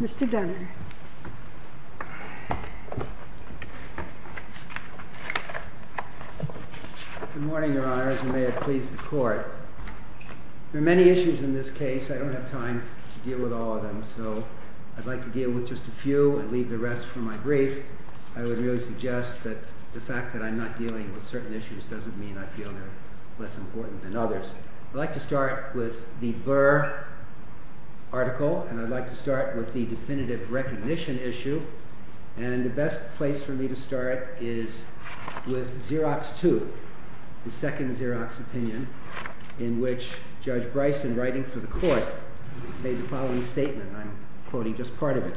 Mr. Dunner. Good morning, Your Honor. As you may have pleased the Court, there are many issues in this case. I don't have time to deal with all of them, so I'd like to deal with just a few and leave the rest for my brief. I would really suggest that the fact that I'm not dealing with certain issues doesn't mean I feel they're less important than others. I'd like to start with the Burr article, and I'd like to start with the definitive recognition issue, and the best place for me to start is with Xerox 2, the second Xerox opinion, in which Judge Bryson, writing for the Court, made the following statement, and I'm quoting just part of it.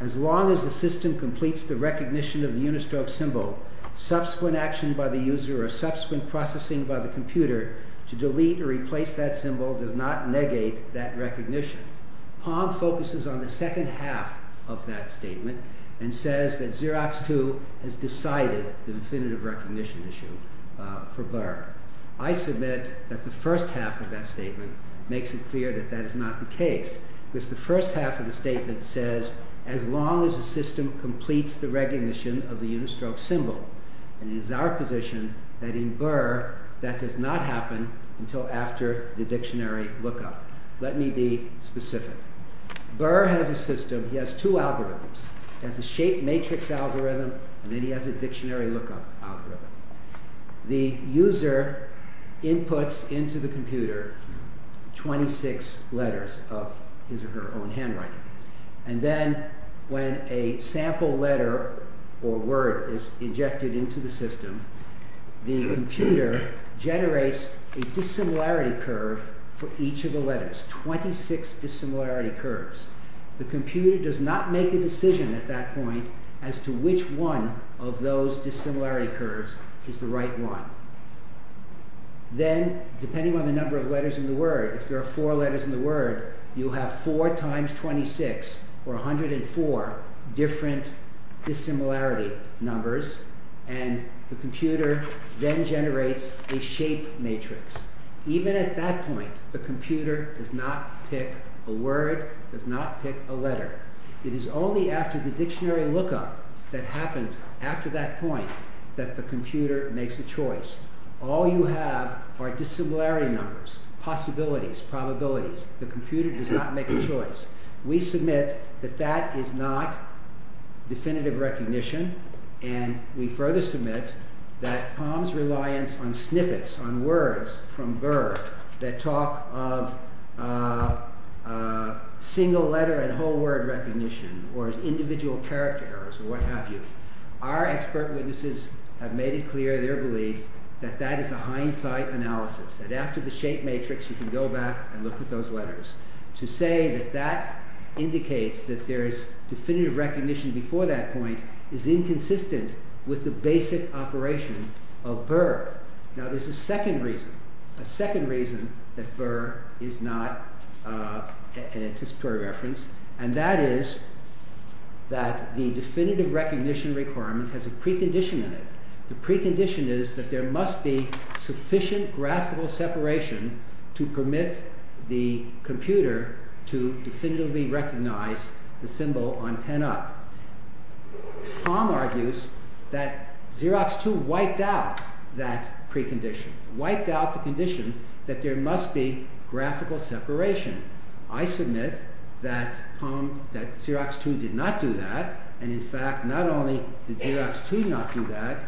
As long as the system completes the recognition of the unistroke symbol, subsequent action by the user or subsequent processing by the computer to delete or replace that symbol does not negate that recognition. Palm focuses on the second half of that statement and says that Xerox 2 has decided the definitive recognition issue for Burr. I submit that the first half of that statement makes it clear that that is not the case, because the first half of the statement says, as long as the system completes the recognition of the unistroke symbol, and it is our position that in Burr that does not happen until after the dictionary lookup. Let me be specific. Burr has a system, he has two algorithms. He has a shape matrix algorithm, and then he has a dictionary lookup algorithm. The computer generates a dissimilarity curve for each of the letters, 26 dissimilarity curves. The computer does not make a decision at that point as to which one of those dissimilarity curves is the right one. Then, depending on the number of letters in the word, if there are 24 letters in the word, you have 4 times 26, or 104 different dissimilarity numbers, and the computer then generates a shape matrix. Even at that point, the computer does not pick a word, does not pick a letter. It is only after the dictionary lookup that happens after that point that the computer makes a choice. All you have are dissimilarity numbers, possibilities, probabilities. The computer does not make a choice. We submit that that is not definitive recognition, and we further submit that POM's reliance on snippets, on words from Burr that talk of single letter and whole word recognition, or individual character errors, or what have you, our expert witnesses have made it clear, their belief, that that is a hindsight analysis, that after the shape matrix you can go back and look at those letters. To say that that indicates that there is definitive recognition before that point is inconsistent with the basic operation of Burr. Now there's a second reason that Burr is not an anticipatory reference, and that is that the definitive recognition requirement has a precondition in it. The precondition is that there must be sufficient graphical separation to permit the computer to definitively recognize the symbol on penup. POM argues that Xerox 2 wiped out that precondition, wiped out the condition that there must be definitive recognition, did Xerox 2 not do that,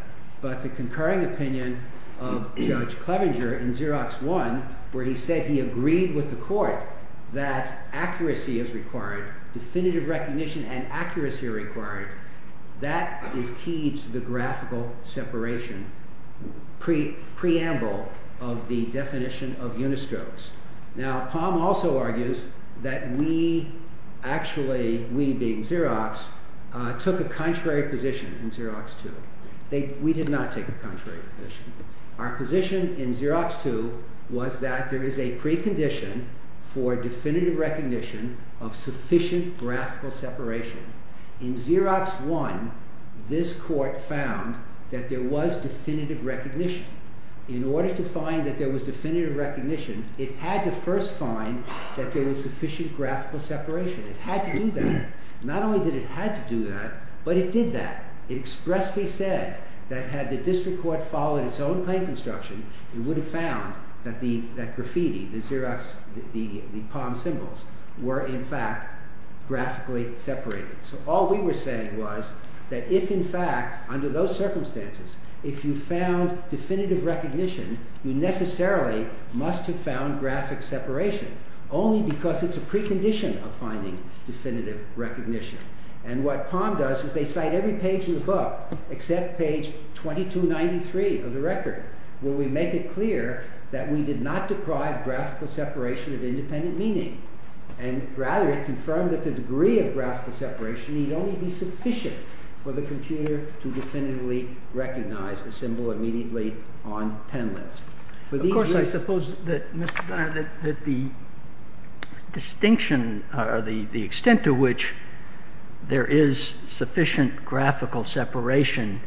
but the concurring opinion of Judge Clevenger in Xerox 1, where he said he agreed with the court that accuracy is required, definitive recognition and accuracy are required, that is key to the graphical separation, preamble of the definition of unistrokes. Now POM also argues that we, actually we being in Xerox, took a contrary position in Xerox 2. We did not take a contrary position. Our position in Xerox 2 was that there is a precondition for definitive recognition of sufficient graphical separation. In Xerox 1, this court found that there was definitive recognition. In order to find that there was definitive recognition, it had to first find that there was sufficient graphical separation. It had to do that. Not only did it have to do that, but it did that. It expressly said that had the district court followed its own claim construction, it would have found that graffiti, the Xerox, the POM symbols, were in fact graphically separated. So all we were saying was that if in fact, under those circumstances, if you found definitive recognition, you necessarily must have found graphic separation, only because it's a precondition of finding definitive recognition. And what POM does is they cite every page in the book, except page 2293 of the record, where we make it clear that we did not deprive graphical separation of independent meaning. And rather, it confirmed that the degree of graphical separation need only be sufficient for the computer to definitively recognize a symbol immediately on pen list. Of course, I suppose that the distinction or the extent to which there is sufficient graphical separation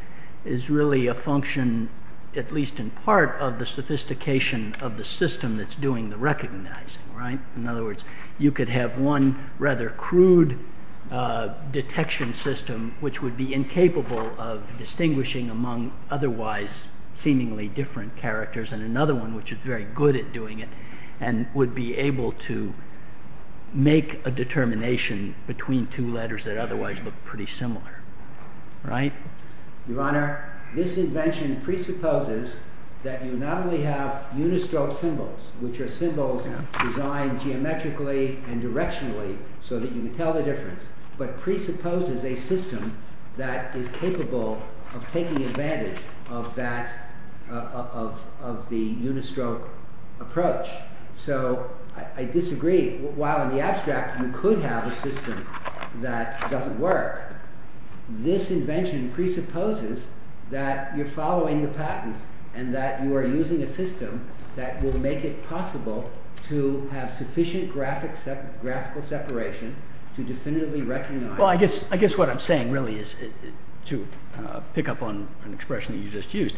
is really a function, at least in part, of the sophistication of the system that's doing the recognizing. In other words, you could have one rather crude detection system, which would be incapable of distinguishing among otherwise seemingly different characters, and another one which is very good at doing it, and would be able to make a determination between two letters that otherwise look pretty similar. Right? Your Honor, this invention presupposes that you not only have unistroke symbols, which are symbols designed geometrically and directionally so that you can tell the difference, but presupposes a system that is capable of taking advantage of the unistroke approach. So, I disagree. While in the abstract you could have a system that doesn't work, this invention presupposes that you're following the patent, and that you are using a system that will make it possible to have sufficient graphical separation to definitively recognize... Well, I guess what I'm saying really is, to pick up on an expression that you just used,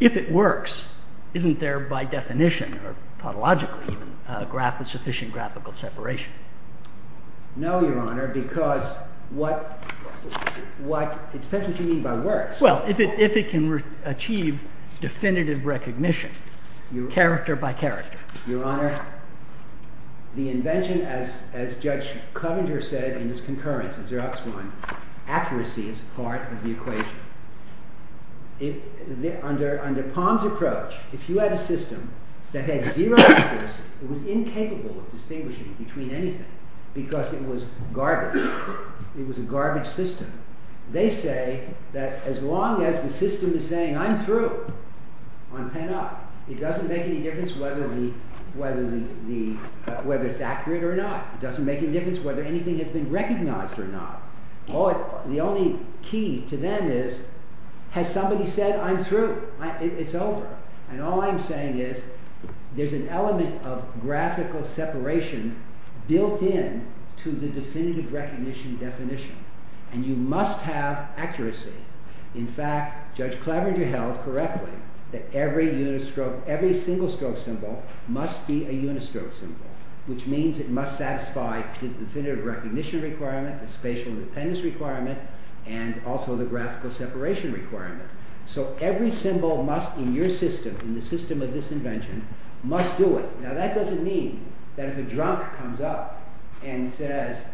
if it works, isn't there by definition, or pathologically even, a sufficient graphical separation? No, Your Honor, because what... it depends what you mean by works. Well, if it can achieve definitive recognition, character by character. Your Honor, the invention, as Judge Coventer said in his concurrence of Xerox One, accuracy is part of the equation. Under Palm's approach, if you had a system that had zero accuracy, it was incapable of distinguishing between anything, because it was garbage. It was a garbage system. They say that as long as the system is saying, I'm through, on pen up, it doesn't make any difference whether it's accurate or not. It doesn't make any difference whether anything has been recognized or not. The only key to them is, has somebody said I'm through? It's over. And all I'm saying is, there's an element of graphical separation built in to the definitive recognition definition, and you must have accuracy. In fact, Judge Coventer said, every single stroke symbol must be a unistroke symbol, which means it must satisfy the definitive recognition requirement, the spatial independence requirement, and also the graphical separation requirement. So every symbol must, in your system, in the system of this invention, must do it. Now that doesn't mean that if a drunk comes up and says,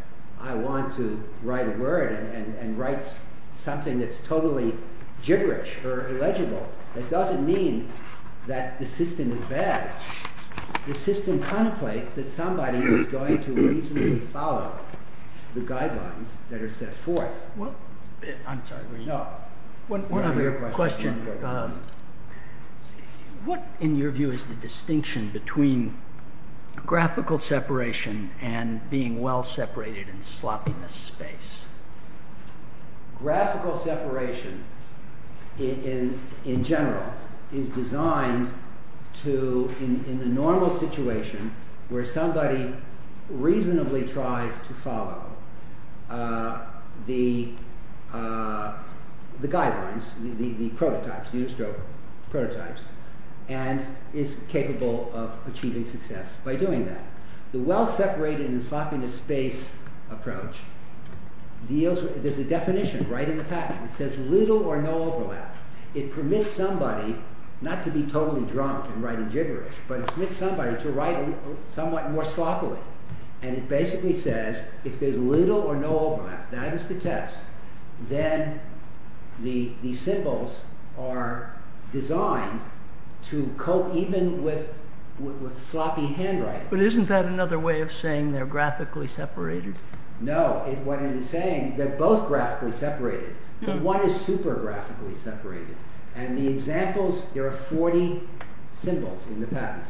I want to write a word, and writes something that's totally gibberish or illegible, that doesn't mean that the system is bad. The system contemplates that somebody is going to reasonably follow the guidelines that are set forth. One other question. What, in your view, is the distinction between graphical separation and being well separated in sloppiness space? Graphical separation, in general, is designed to, in a normal situation, where somebody reasonably tries to follow the guidelines, the prototypes, unistroke prototypes, and is capable of achieving success by doing that. The well separated in sloppiness space approach deals with, there's a definition right in the patent, it says little or no overlap. It permits somebody, not to be totally drunk and writing gibberish, but it permits somebody to write somewhat more sloppily. And it basically says, if there's little or no overlap, that is the test, then the symbols are designed to cope even with sloppy handwriting. But isn't that another way of saying they're graphically separated? No, what it is saying, they're both graphically separated, but one is super graphically separated. And the examples, there are 40 symbols in the patent,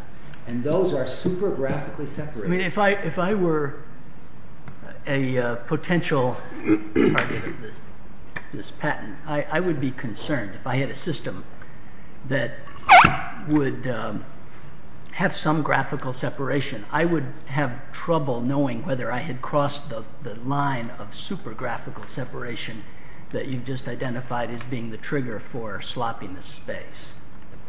and those are super graphically separated. I mean, if I were a potential target of this patent, I would be concerned if I had a system that would have some graphical separation. I would have trouble knowing whether I had crossed the line of super graphical separation that you've just identified as being the trigger for sloppiness space.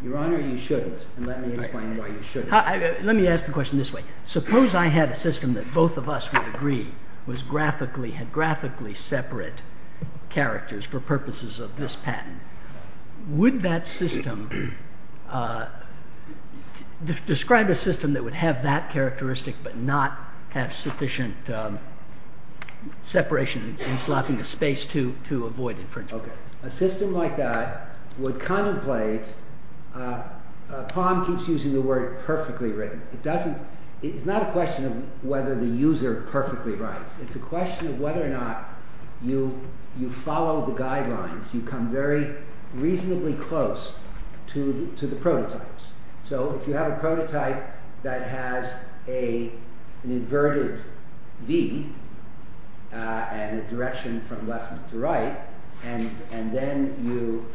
Your Honor, you shouldn't, and let me explain why you shouldn't. Let me ask the question this way. Suppose I had a system that both of us would agree was graphically, had graphically separate characters for purposes of this patent. Would that system, describe a system that would have that characteristic but not have sufficient separation and sloppiness space to avoid infringement? Okay. A system like that would contemplate, Palm keeps using the word perfectly written. It doesn't, it's not a question of whether the user perfectly writes. It's a question of whether or not you follow the guidelines, you come very reasonably close to the prototypes. So if you have a prototype that has an inverted V and a direction from left to right, and then you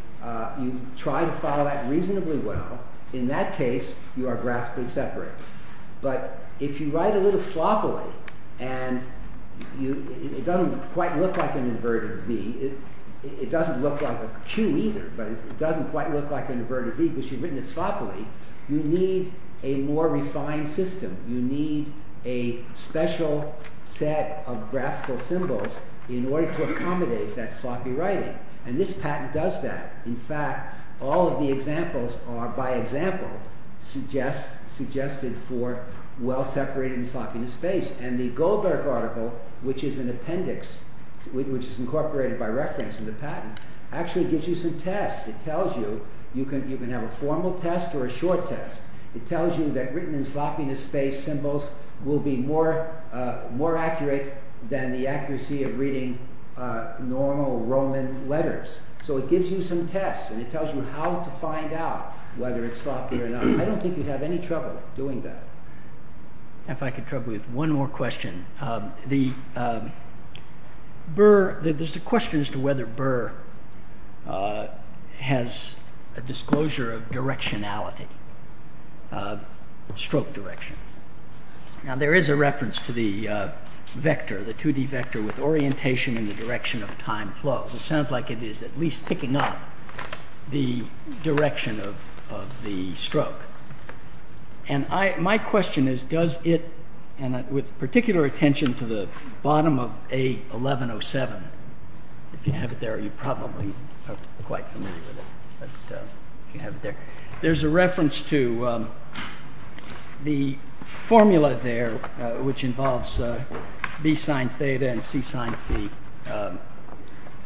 try to follow that reasonably well, in that case you are graphically separate. But if you write a little sloppily and it doesn't quite look like an inverted V, it doesn't look like a Q either, but it doesn't quite look like an inverted V because you've written it sloppily, you need a more refined system. You need a special set of graphical symbols in order to accommodate that sloppy writing. And this patent does that. In fact, all of the examples are, by example, suggested for well-separated sloppiness space. And the Goldberg article, which is an appendix, which is incorporated by reference in the patent, actually gives you some tests. It tells you, you can have a formal test or a short test. It tells you that written in sloppiness space symbols will be more accurate than the accuracy of reading normal Roman letters. So it gives you some tests and it tells you how to find out whether it's sloppy or not. I don't think you'd have any trouble doing that. If I could trouble you with one more question. There's a question as to whether Burr has a disclosure of directionality, stroke direction. Now there is a reference to the vector, the 2D vector with orientation in the direction of time flows. It sounds like it is at least with particular attention to the bottom of A1107. If you have it there, you're probably quite familiar with it. There's a reference to the formula there, which involves B sine theta and C sine phi.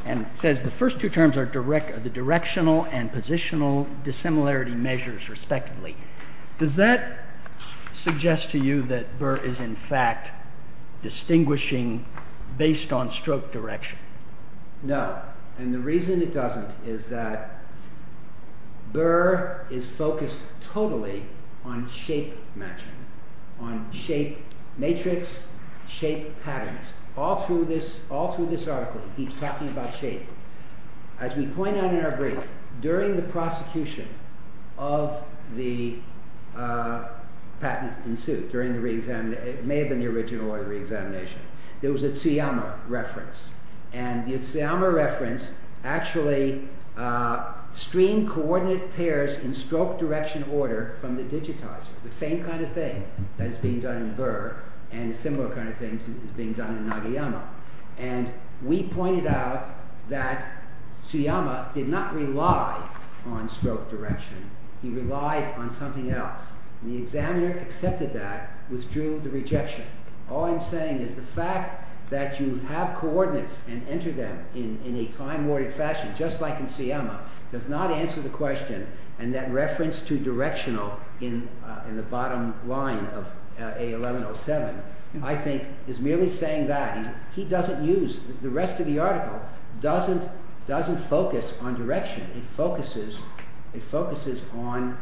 And it says the first two terms are the directional and positional similarity measures respectively. Does that suggest to you that Burr is in fact distinguishing based on stroke direction? No. And the reason it doesn't is that Burr is focused totally on shape matching, on shape matrix, shape patterns. All through this article he's talking about shape. As we point out in our brief, during the prosecution of the patent in suit, during the re-examination, it may have been the original re-examination, there was a Tsuyama reference. And the Tsuyama reference actually streamed coordinate pairs in stroke direction order from the digitizer. The same kind of thing that is being done in Burr and a similar kind of thing is being done in Nagayama. And we pointed out that Tsuyama did not rely on stroke direction. He relied on something else. The examiner accepted that, withdrew the rejection. All I'm saying is the fact that you have coordinates and enter them in a time-ordered fashion, just like in Tsuyama, does not answer the question. And that reference to directional in the bottom line of A1107, I think, is merely saying that. He doesn't use, the rest of the article doesn't focus on direction. It focuses on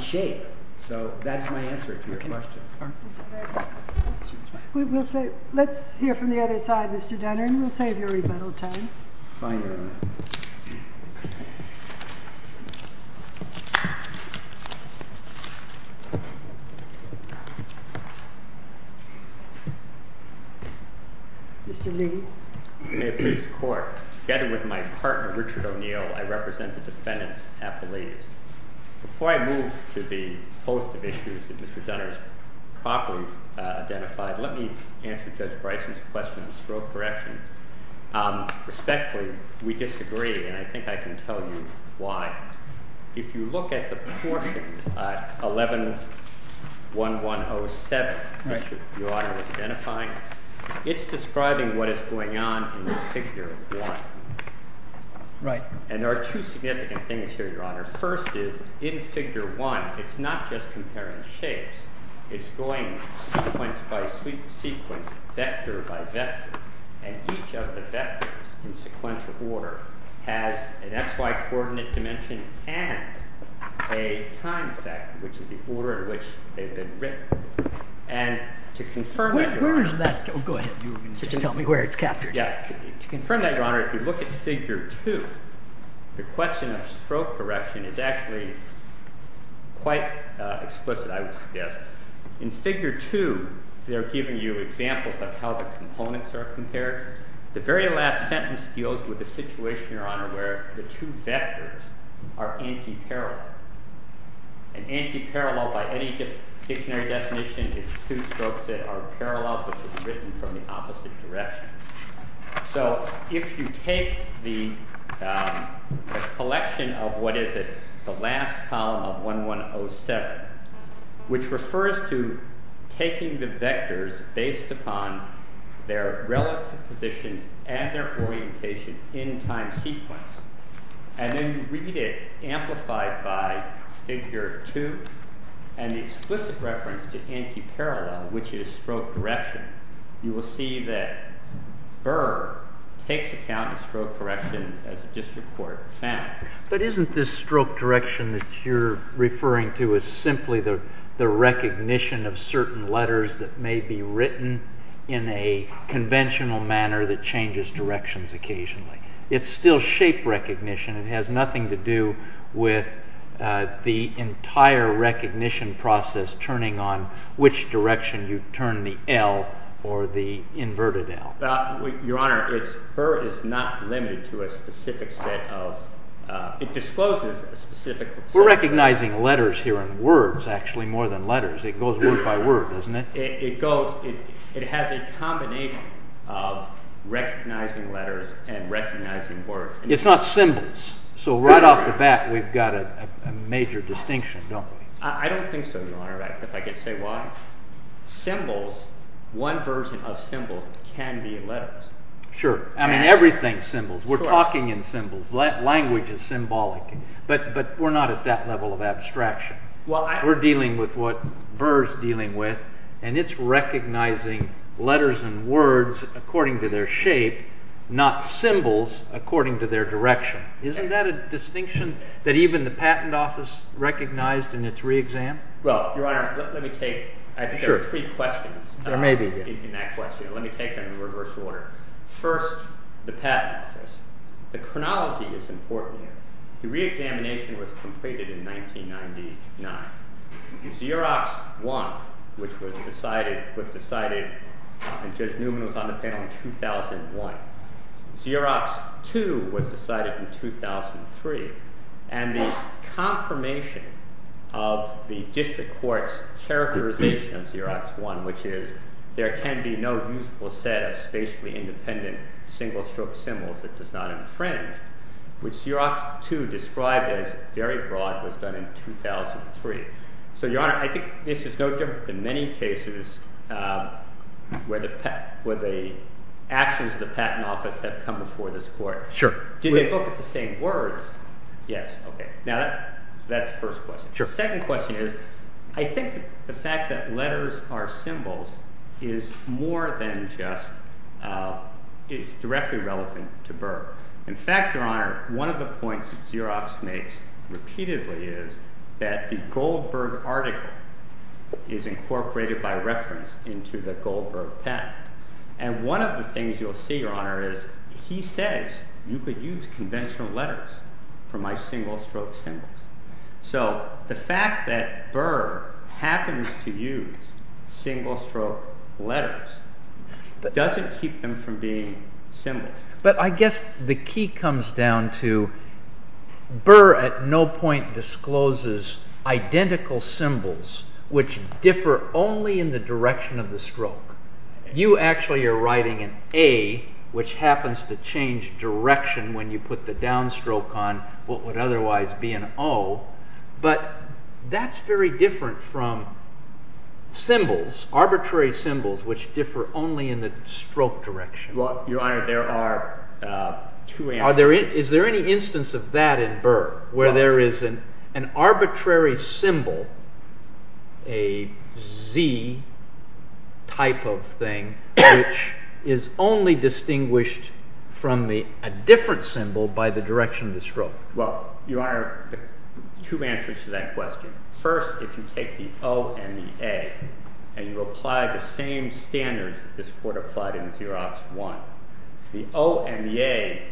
shape. So that's my answer to your question. Let's hear from the other side, Mr. Dunner, and we'll save your rebuttal time. Fine, Your Honor. Mr. Lee. May it please the Court, together with my partner, Richard O'Neill, I represent the defendants at the leaves. Before I move to the host of issues that Mr. Dunner has properly identified, let me answer Judge Bryson's question on stroke direction. Respectfully, we disagree, and I think I can tell you why. If you look at the portion, 111107, which Your Honor is identifying, it's describing what is going on in Figure 1. And there are two significant things here, Your Honor. First is, in Figure 1, it's not just comparing shapes. It's going sequence by sequence, vector by vector. And each of the vectors in sequential order has an xy coordinate dimension and a time factor, which is the order in which they've been written. And to confirm that, Your Honor, if you look at Figure 2, the question of stroke direction is actually quite explicit, I would suggest. In Figure 2, they're giving you examples of how the components are compared. The very last sentence deals with the situation, Your Honor, where the two vectors are anti-parallel. And anti-parallel, by any dictionary definition, is two strokes that are parallel, which is written from the opposite direction. So if you take the collection of what is it, the last column of 11107, which refers to taking the vectors based upon their relative positions and their orientation in time sequence, and then you read it amplified by Figure 2, and the explicit reference to anti-parallel, which takes account of stroke correction as a district court fact. But isn't this stroke direction that you're referring to is simply the recognition of certain letters that may be written in a conventional manner that changes directions occasionally? It's still shape recognition. It has nothing to do with the entire recognition process turning on which direction you turn the L or the inverted L. Your Honor, it's not limited to a specific set of, it discloses a specific set of letters. We're recognizing letters here in words, actually, more than letters. It goes word by word, doesn't it? It goes, it has a combination of recognizing letters and recognizing words. It's not symbols. So right off the bat, we've got a major distinction, don't we? I don't think so, Your Honor, if I could say why. Symbols, one version of symbols can be letters. Sure. I mean, everything's symbols. We're talking in symbols. Language is symbolic. But we're not at that level of abstraction. We're dealing with what Verr's dealing with, and it's recognizing letters and words according to their shape, not symbols according to their direction. Isn't that a distinction that even the Patent Office recognized in its re-exam? Well, Your Honor, let me take, I think there are three questions in that question. Let me take them in reverse order. First, the Patent Office. The chronology is important here. The re-examination was completed in 1999. Xerox I, which was decided, and Judge Newman was on the panel in 2001. Xerox II was decided in 2003, and the confirmation of the district court's characterization of Xerox I, which is there can be no useful set of spatially independent single-stroke symbols that does not infringe, which Xerox II described as very broad, was done in 2003. So, Your Honor, I think this is no different than many cases where the actions of the Patent Office have come before this court. Sure. Did they look at the same words? Yes. Okay. Now, that's the first question. Sure. The second question is, I think the fact that letters are symbols is more than just, it's directly relevant to Verr. In fact, Your Honor, one of the points that Xerox makes repeatedly is that the Goldberg article is incorporated by reference into the Goldberg patent. And one of the things you'll see, Your Honor, is he says you could use conventional letters for my single-stroke symbols. So, the fact that Verr happens to use single-stroke letters doesn't keep them from being symbols. But I guess the key comes down to Verr at no point discloses identical symbols which differ only in the direction of the stroke. You actually are writing an A, which happens to change direction when you put the downstroke on what would otherwise be an O. But that's very different from symbols, arbitrary symbols, which differ only in the stroke direction. Your Honor, there are two answers. Is there any instance of that in Verr, where there is an arbitrary symbol, a Z type of thing, which is only distinguished from a different symbol by the direction of the stroke? Well, Your Honor, two answers to that question. First, if you take the O and the A and you apply the same standards that this Court applied in Xerox I, the O and the A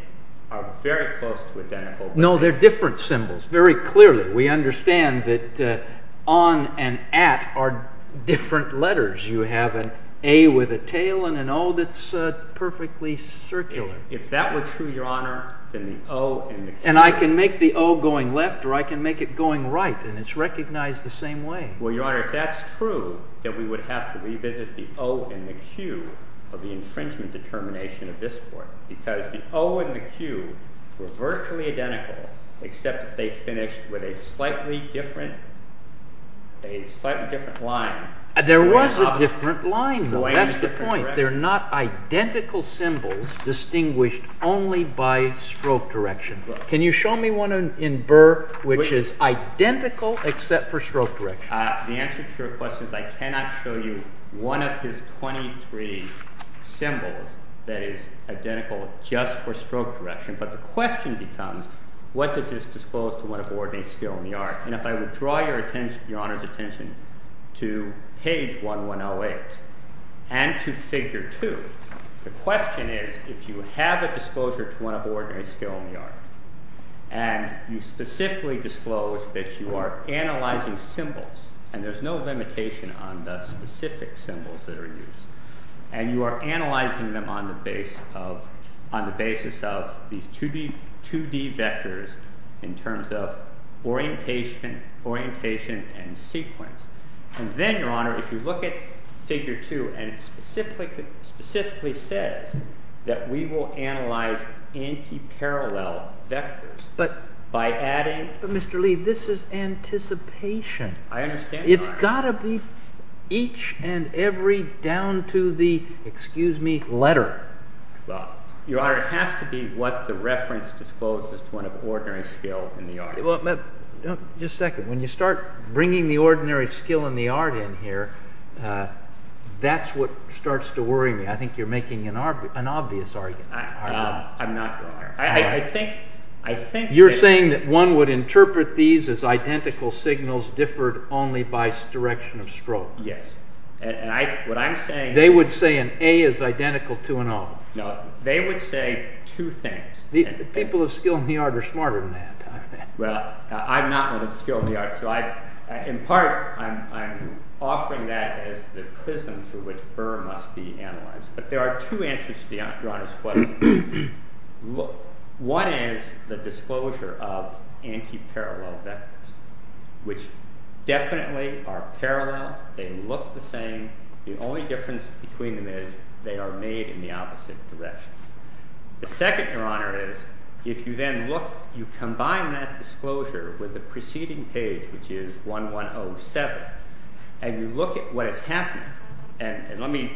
are very close to identical. No, they're different symbols, very clearly. We understand that on and at are different letters. You have an A with a tail and an O that's perfectly circular. If that were true, Your Honor, then the O and the Q— And I can make the O going left, or I can make it going right, and it's recognized the same way. Well, Your Honor, if that's true, then we would have to revisit the O and the Q of the infringement determination of this Court. Because the O and the Q were virtually identical, except that they finished with a slightly different line. There was a different line, though. That's the point. They're not identical symbols distinguished only by stroke direction. Can you show me one in Verr which is identical except for stroke direction? The answer to your question is I cannot show you one of his 23 symbols that is identical just for stroke direction. But the question becomes, what does this disclose to one of ordinary skill in the art? And if I would draw Your Honor's attention to page 1108 and to figure 2, the question is if you have a disclosure to one of ordinary skill in the art, and you specifically disclose that you are analyzing symbols, and there's no limitation on the specific symbols that are used, and you are analyzing them on the basis of these 2D vectors in terms of orientation and sequence. And then, Your Honor, if you look at figure 2, and it specifically says that we will analyze anti-parallel vectors by adding… But Mr. Lee, this is anticipation. I understand, Your Honor. It's got to be each and every, down to the, excuse me, letter. Your Honor, it has to be what the reference discloses to one of ordinary skill in the art. Just a second. When you start bringing the ordinary skill in the art in here, that's what starts to worry me. I think you're making an obvious argument. I'm not, Your Honor. I think… You're saying that one would interpret these as identical signals differed only by direction of stroke. Yes. And what I'm saying… They would say an A is identical to an O. No. They would say two things. The people of skill in the art are smarter than that. Well, I'm not one of skill in the art. So, in part, I'm offering that as the prism through which fur must be analyzed. But there are two answers to Your Honor's question. One is the disclosure of anti-parallel vectors, which definitely are parallel. They look the same. The only difference between them is they are made in the opposite direction. The second, Your Honor, is if you then look, you combine that disclosure with the preceding page, which is 1107, and you look at what is happening. And let me…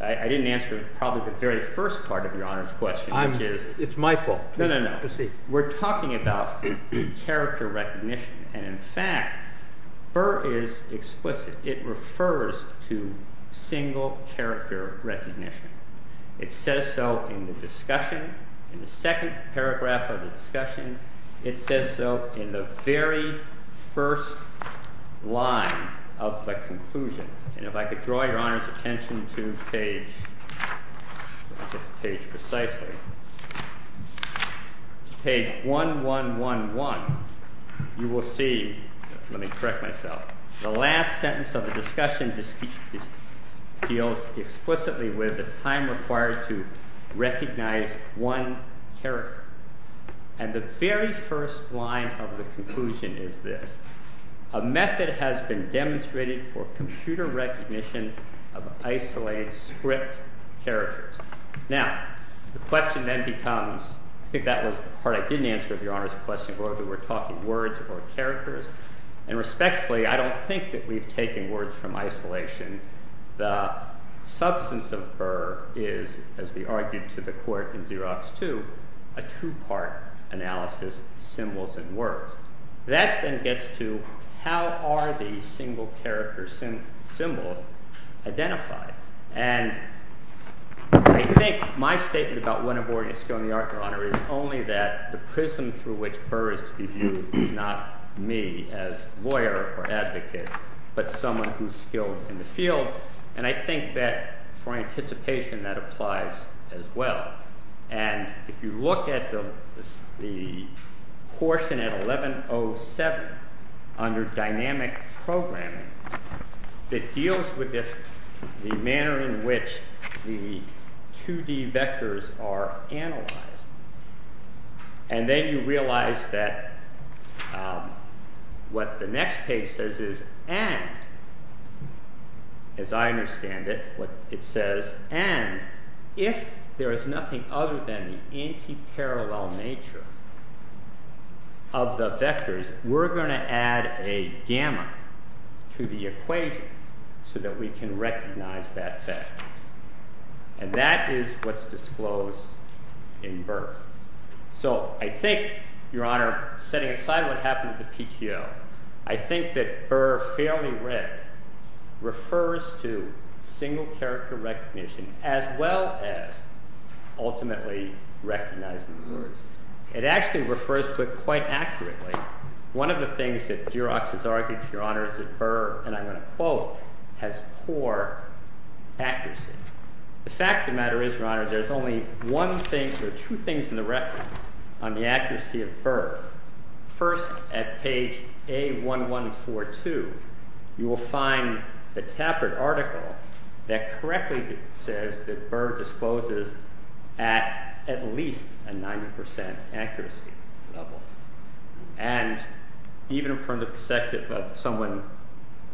I didn't answer probably the very first part of Your Honor's question, which is… It's my fault. No, no, no. We're talking about character recognition. And, in fact, fur is explicit. It refers to single character recognition. It says so in the discussion, in the second paragraph of the discussion. It says so in the very first line of the conclusion. And if I could draw Your Honor's attention to page… Let me look at the page precisely. Page 1111, you will see… Let me correct myself. The last sentence of the discussion deals explicitly with the time required to recognize one character. And the very first line of the conclusion is this. A method has been demonstrated for computer recognition of isolated script characters. Now, the question then becomes… I think that was the part I didn't answer of Your Honor's question, whether we're talking words or characters. And respectfully, I don't think that we've taken words from isolation. The substance of fur is, as we argued to the court in Xerox 2, a two-part analysis, symbols and words. That then gets to how are these single character symbols identified. And I think my statement about one abhorring a skill in the art, Your Honor, is only that the prism through which fur is to be viewed is not me as lawyer or advocate, but someone who's skilled in the field. And I think that for anticipation, that applies as well. And if you look at the portion at 1107 under dynamic programming, it deals with the manner in which the 2D vectors are analyzed. And then you realize that what the next page says is, and as I understand it, what it says, and if there is nothing other than the anti-parallel nature of the vectors, we're going to add a gamma to the equation so that we can recognize that vector. And that is what's disclosed in birth. So I think, Your Honor, setting aside what happened with the PTO, I think that fur fairly red refers to single character recognition as well as ultimately recognizing words. It actually refers to it quite accurately. One of the things that Xerox has argued, Your Honor, is that fur, and I'm going to quote, has poor accuracy. The fact of the matter is, Your Honor, there's only one thing or two things in the record on the accuracy of fur. First, at page A1142, you will find the Tappert article that correctly says that fur discloses at least a 90% accuracy level. And even from the perspective of someone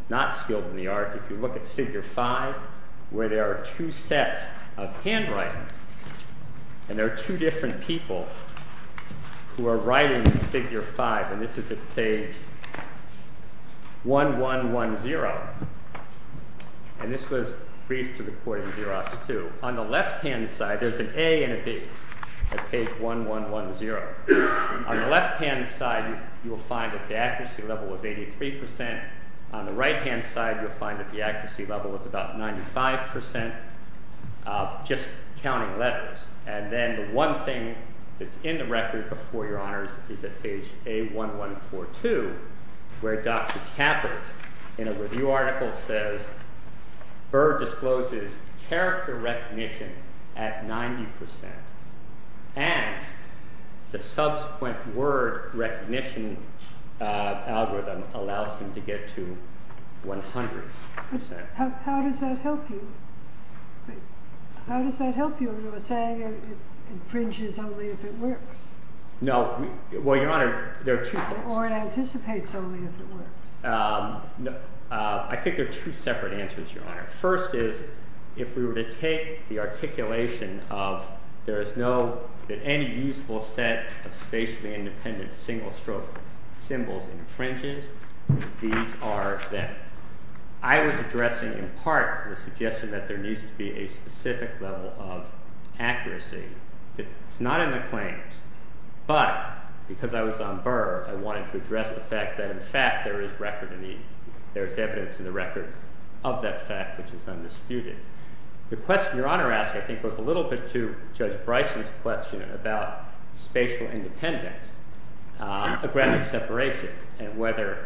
not skilled in the art, if you look at Figure 5, where there are two sets of handwriting, and there are two different people who are writing in Figure 5, and this is at page 1110, and this was briefed to the court in Xerox, too. On the left-hand side, there's an A and a B at page 1110. On the left-hand side, you will find that the accuracy level was 83%. On the right-hand side, you'll find that the accuracy level was about 95%, just counting letters. And then the one thing that's in the record before Your Honors is at page A1142, where Dr. Tappert, in a review article, says fur discloses character recognition at 90%. And the subsequent word recognition algorithm allows him to get to 100%. How does that help you? How does that help you in saying it infringes only if it works? No. Well, Your Honor, there are two things. Or it anticipates only if it works. I think there are two separate answers, Your Honor. First is if we were to take the articulation of there is no, that any useful set of spatially independent single-stroke symbols infringes, these are then. I was addressing in part the suggestion that there needs to be a specific level of accuracy. It's not in the claims, but because I was on Burr, I wanted to address the fact that, in fact, there is evidence in the record of that fact which is undisputed. The question Your Honor asked, I think, was a little bit to Judge Bryson's question about spatial independence, a graphic separation, and whether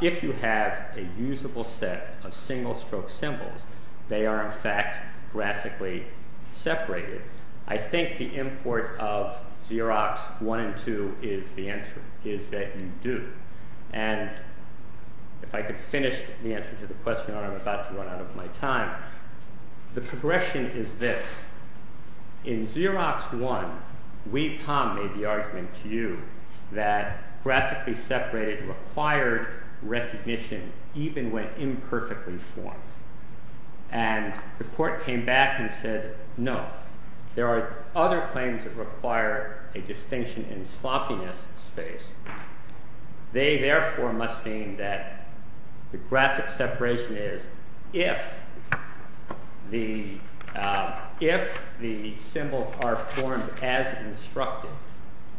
if you have a usable set of single-stroke symbols, they are, in fact, graphically separated. I think the import of Xerox 1 and 2 is the answer, is that you do. And if I could finish the answer to the question, Your Honor, I'm about to run out of my time. The progression is this. In Xerox 1, we, POM, made the argument to you that graphically separated required recognition even when imperfectly formed. And the court came back and said, no, there are other claims that require a distinction in sloppiness space. They, therefore, must mean that the graphic separation is if the symbols are formed as instructed,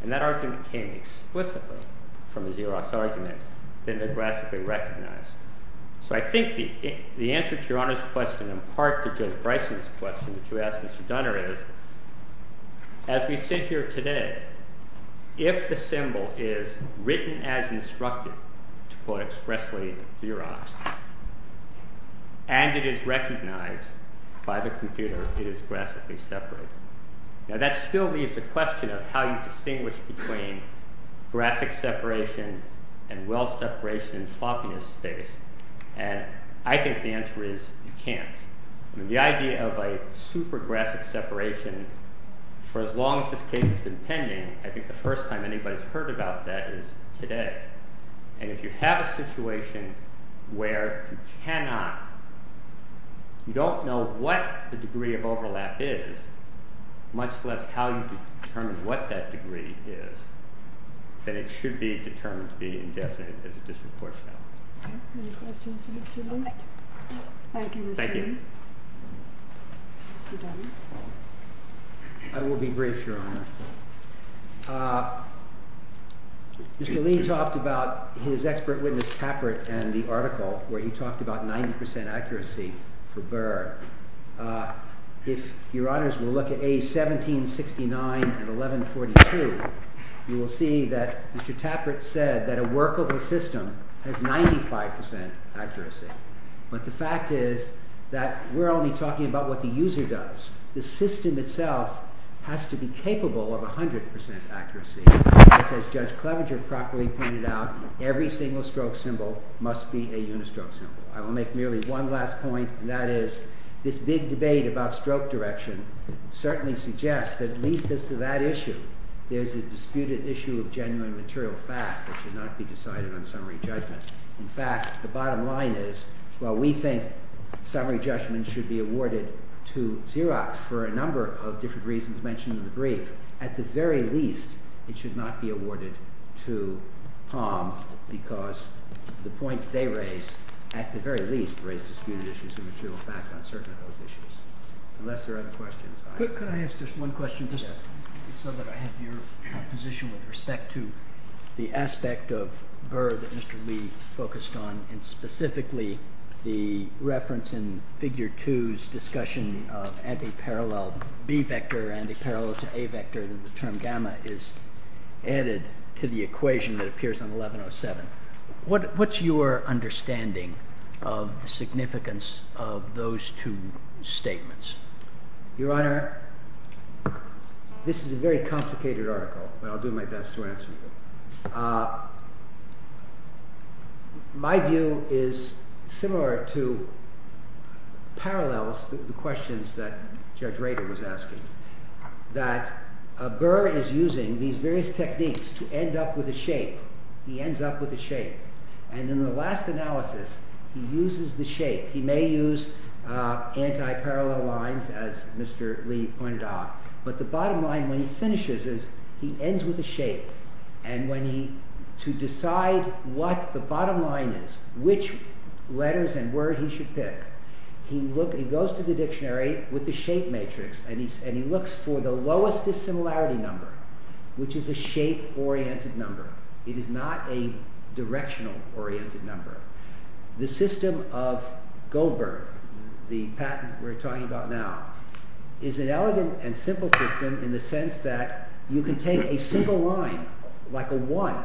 and that argument came explicitly from the Xerox argument, then they're graphically recognized. So I think the answer to Your Honor's question, in part to Judge Bryson's question that you asked Mr. Dunner is, as we sit here today, if the symbol is written as instructed, to quote expressly Xeroxed, and it is recognized by the computer, it is graphically separated. Now, that still leaves the question of how you distinguish between graphic separation and well separation in sloppiness space. And I think the answer is you can't. The idea of a super graphic separation, for as long as this case has been pending, I think the first time anybody's heard about that is today. And if you have a situation where you cannot, you don't know what the degree of overlap is, much less how you determine what that degree is, then it should be determined to be indefinite, as it just reports now. Any questions for Mr. Lean? Thank you, Mr. Lean. Thank you. Mr. Dunner. I will be brief, Your Honor. Mr. Lean talked about his expert witness Tappert and the article where he talked about 90% accuracy for Burr. If Your Honors will look at A1769 and 1142, you will see that Mr. Tappert said that a workable system has 95% accuracy. But the fact is that we're only talking about what the user does. The system itself has to be capable of 100% accuracy. As Judge Clevenger properly pointed out, every single-stroke symbol must be a unistroke symbol. I will make merely one last point, and that is this big debate about stroke direction certainly suggests that, at least as to that issue, there's a disputed issue of genuine material fact that should not be decided on summary judgment. In fact, the bottom line is, while we think summary judgment should be awarded to Xerox for a number of different reasons mentioned in the brief, at the very least, it should not be awarded to Palm because the points they raise, at the very least, raise disputed issues of material fact on certain of those issues. Unless there are other questions. Could I ask just one question, just so that I have your position with respect to the aspect of Burr that Mr. Lee focused on, and specifically the reference in Figure 2's discussion of anti-parallel B vector, anti-parallel to A vector, that the term gamma is added to the equation that appears on 1107. What's your understanding of the significance of those two statements? Your Honor, this is a very complicated article, but I'll do my best to answer it. My view is similar to parallels, the questions that Judge Rader was asking, that Burr is using these various techniques to end up with a shape. He ends up with a shape. And in the last analysis, he uses the shape. He may use anti-parallel lines as Mr. Lee pointed out, but the bottom line when he finishes is, he ends with a shape. And to decide what the bottom line is, which letters and word he should pick, he goes to the dictionary with the shape matrix and he looks for the lowest dissimilarity number, which is a shape-oriented number. It is not a directional-oriented number. The system of Goldberg, the patent we're talking about now, is an elegant and simple system in the sense that you can take a single line, like a one,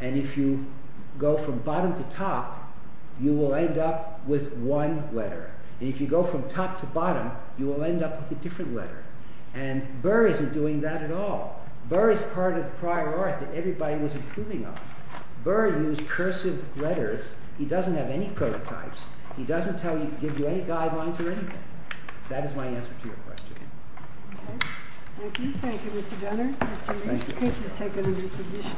and if you go from bottom to top, you will end up with one letter. And if you go from top to bottom, you will end up with a different letter. And Burr isn't doing that at all. Burr is part of prior art that everybody was improving on. Burr used cursive letters. He doesn't have any prototypes. He doesn't give you any guidelines or anything. That is my answer to your question. Okay. Thank you. Thank you, Mr. Jenner. Mr. Lee, please take a new position.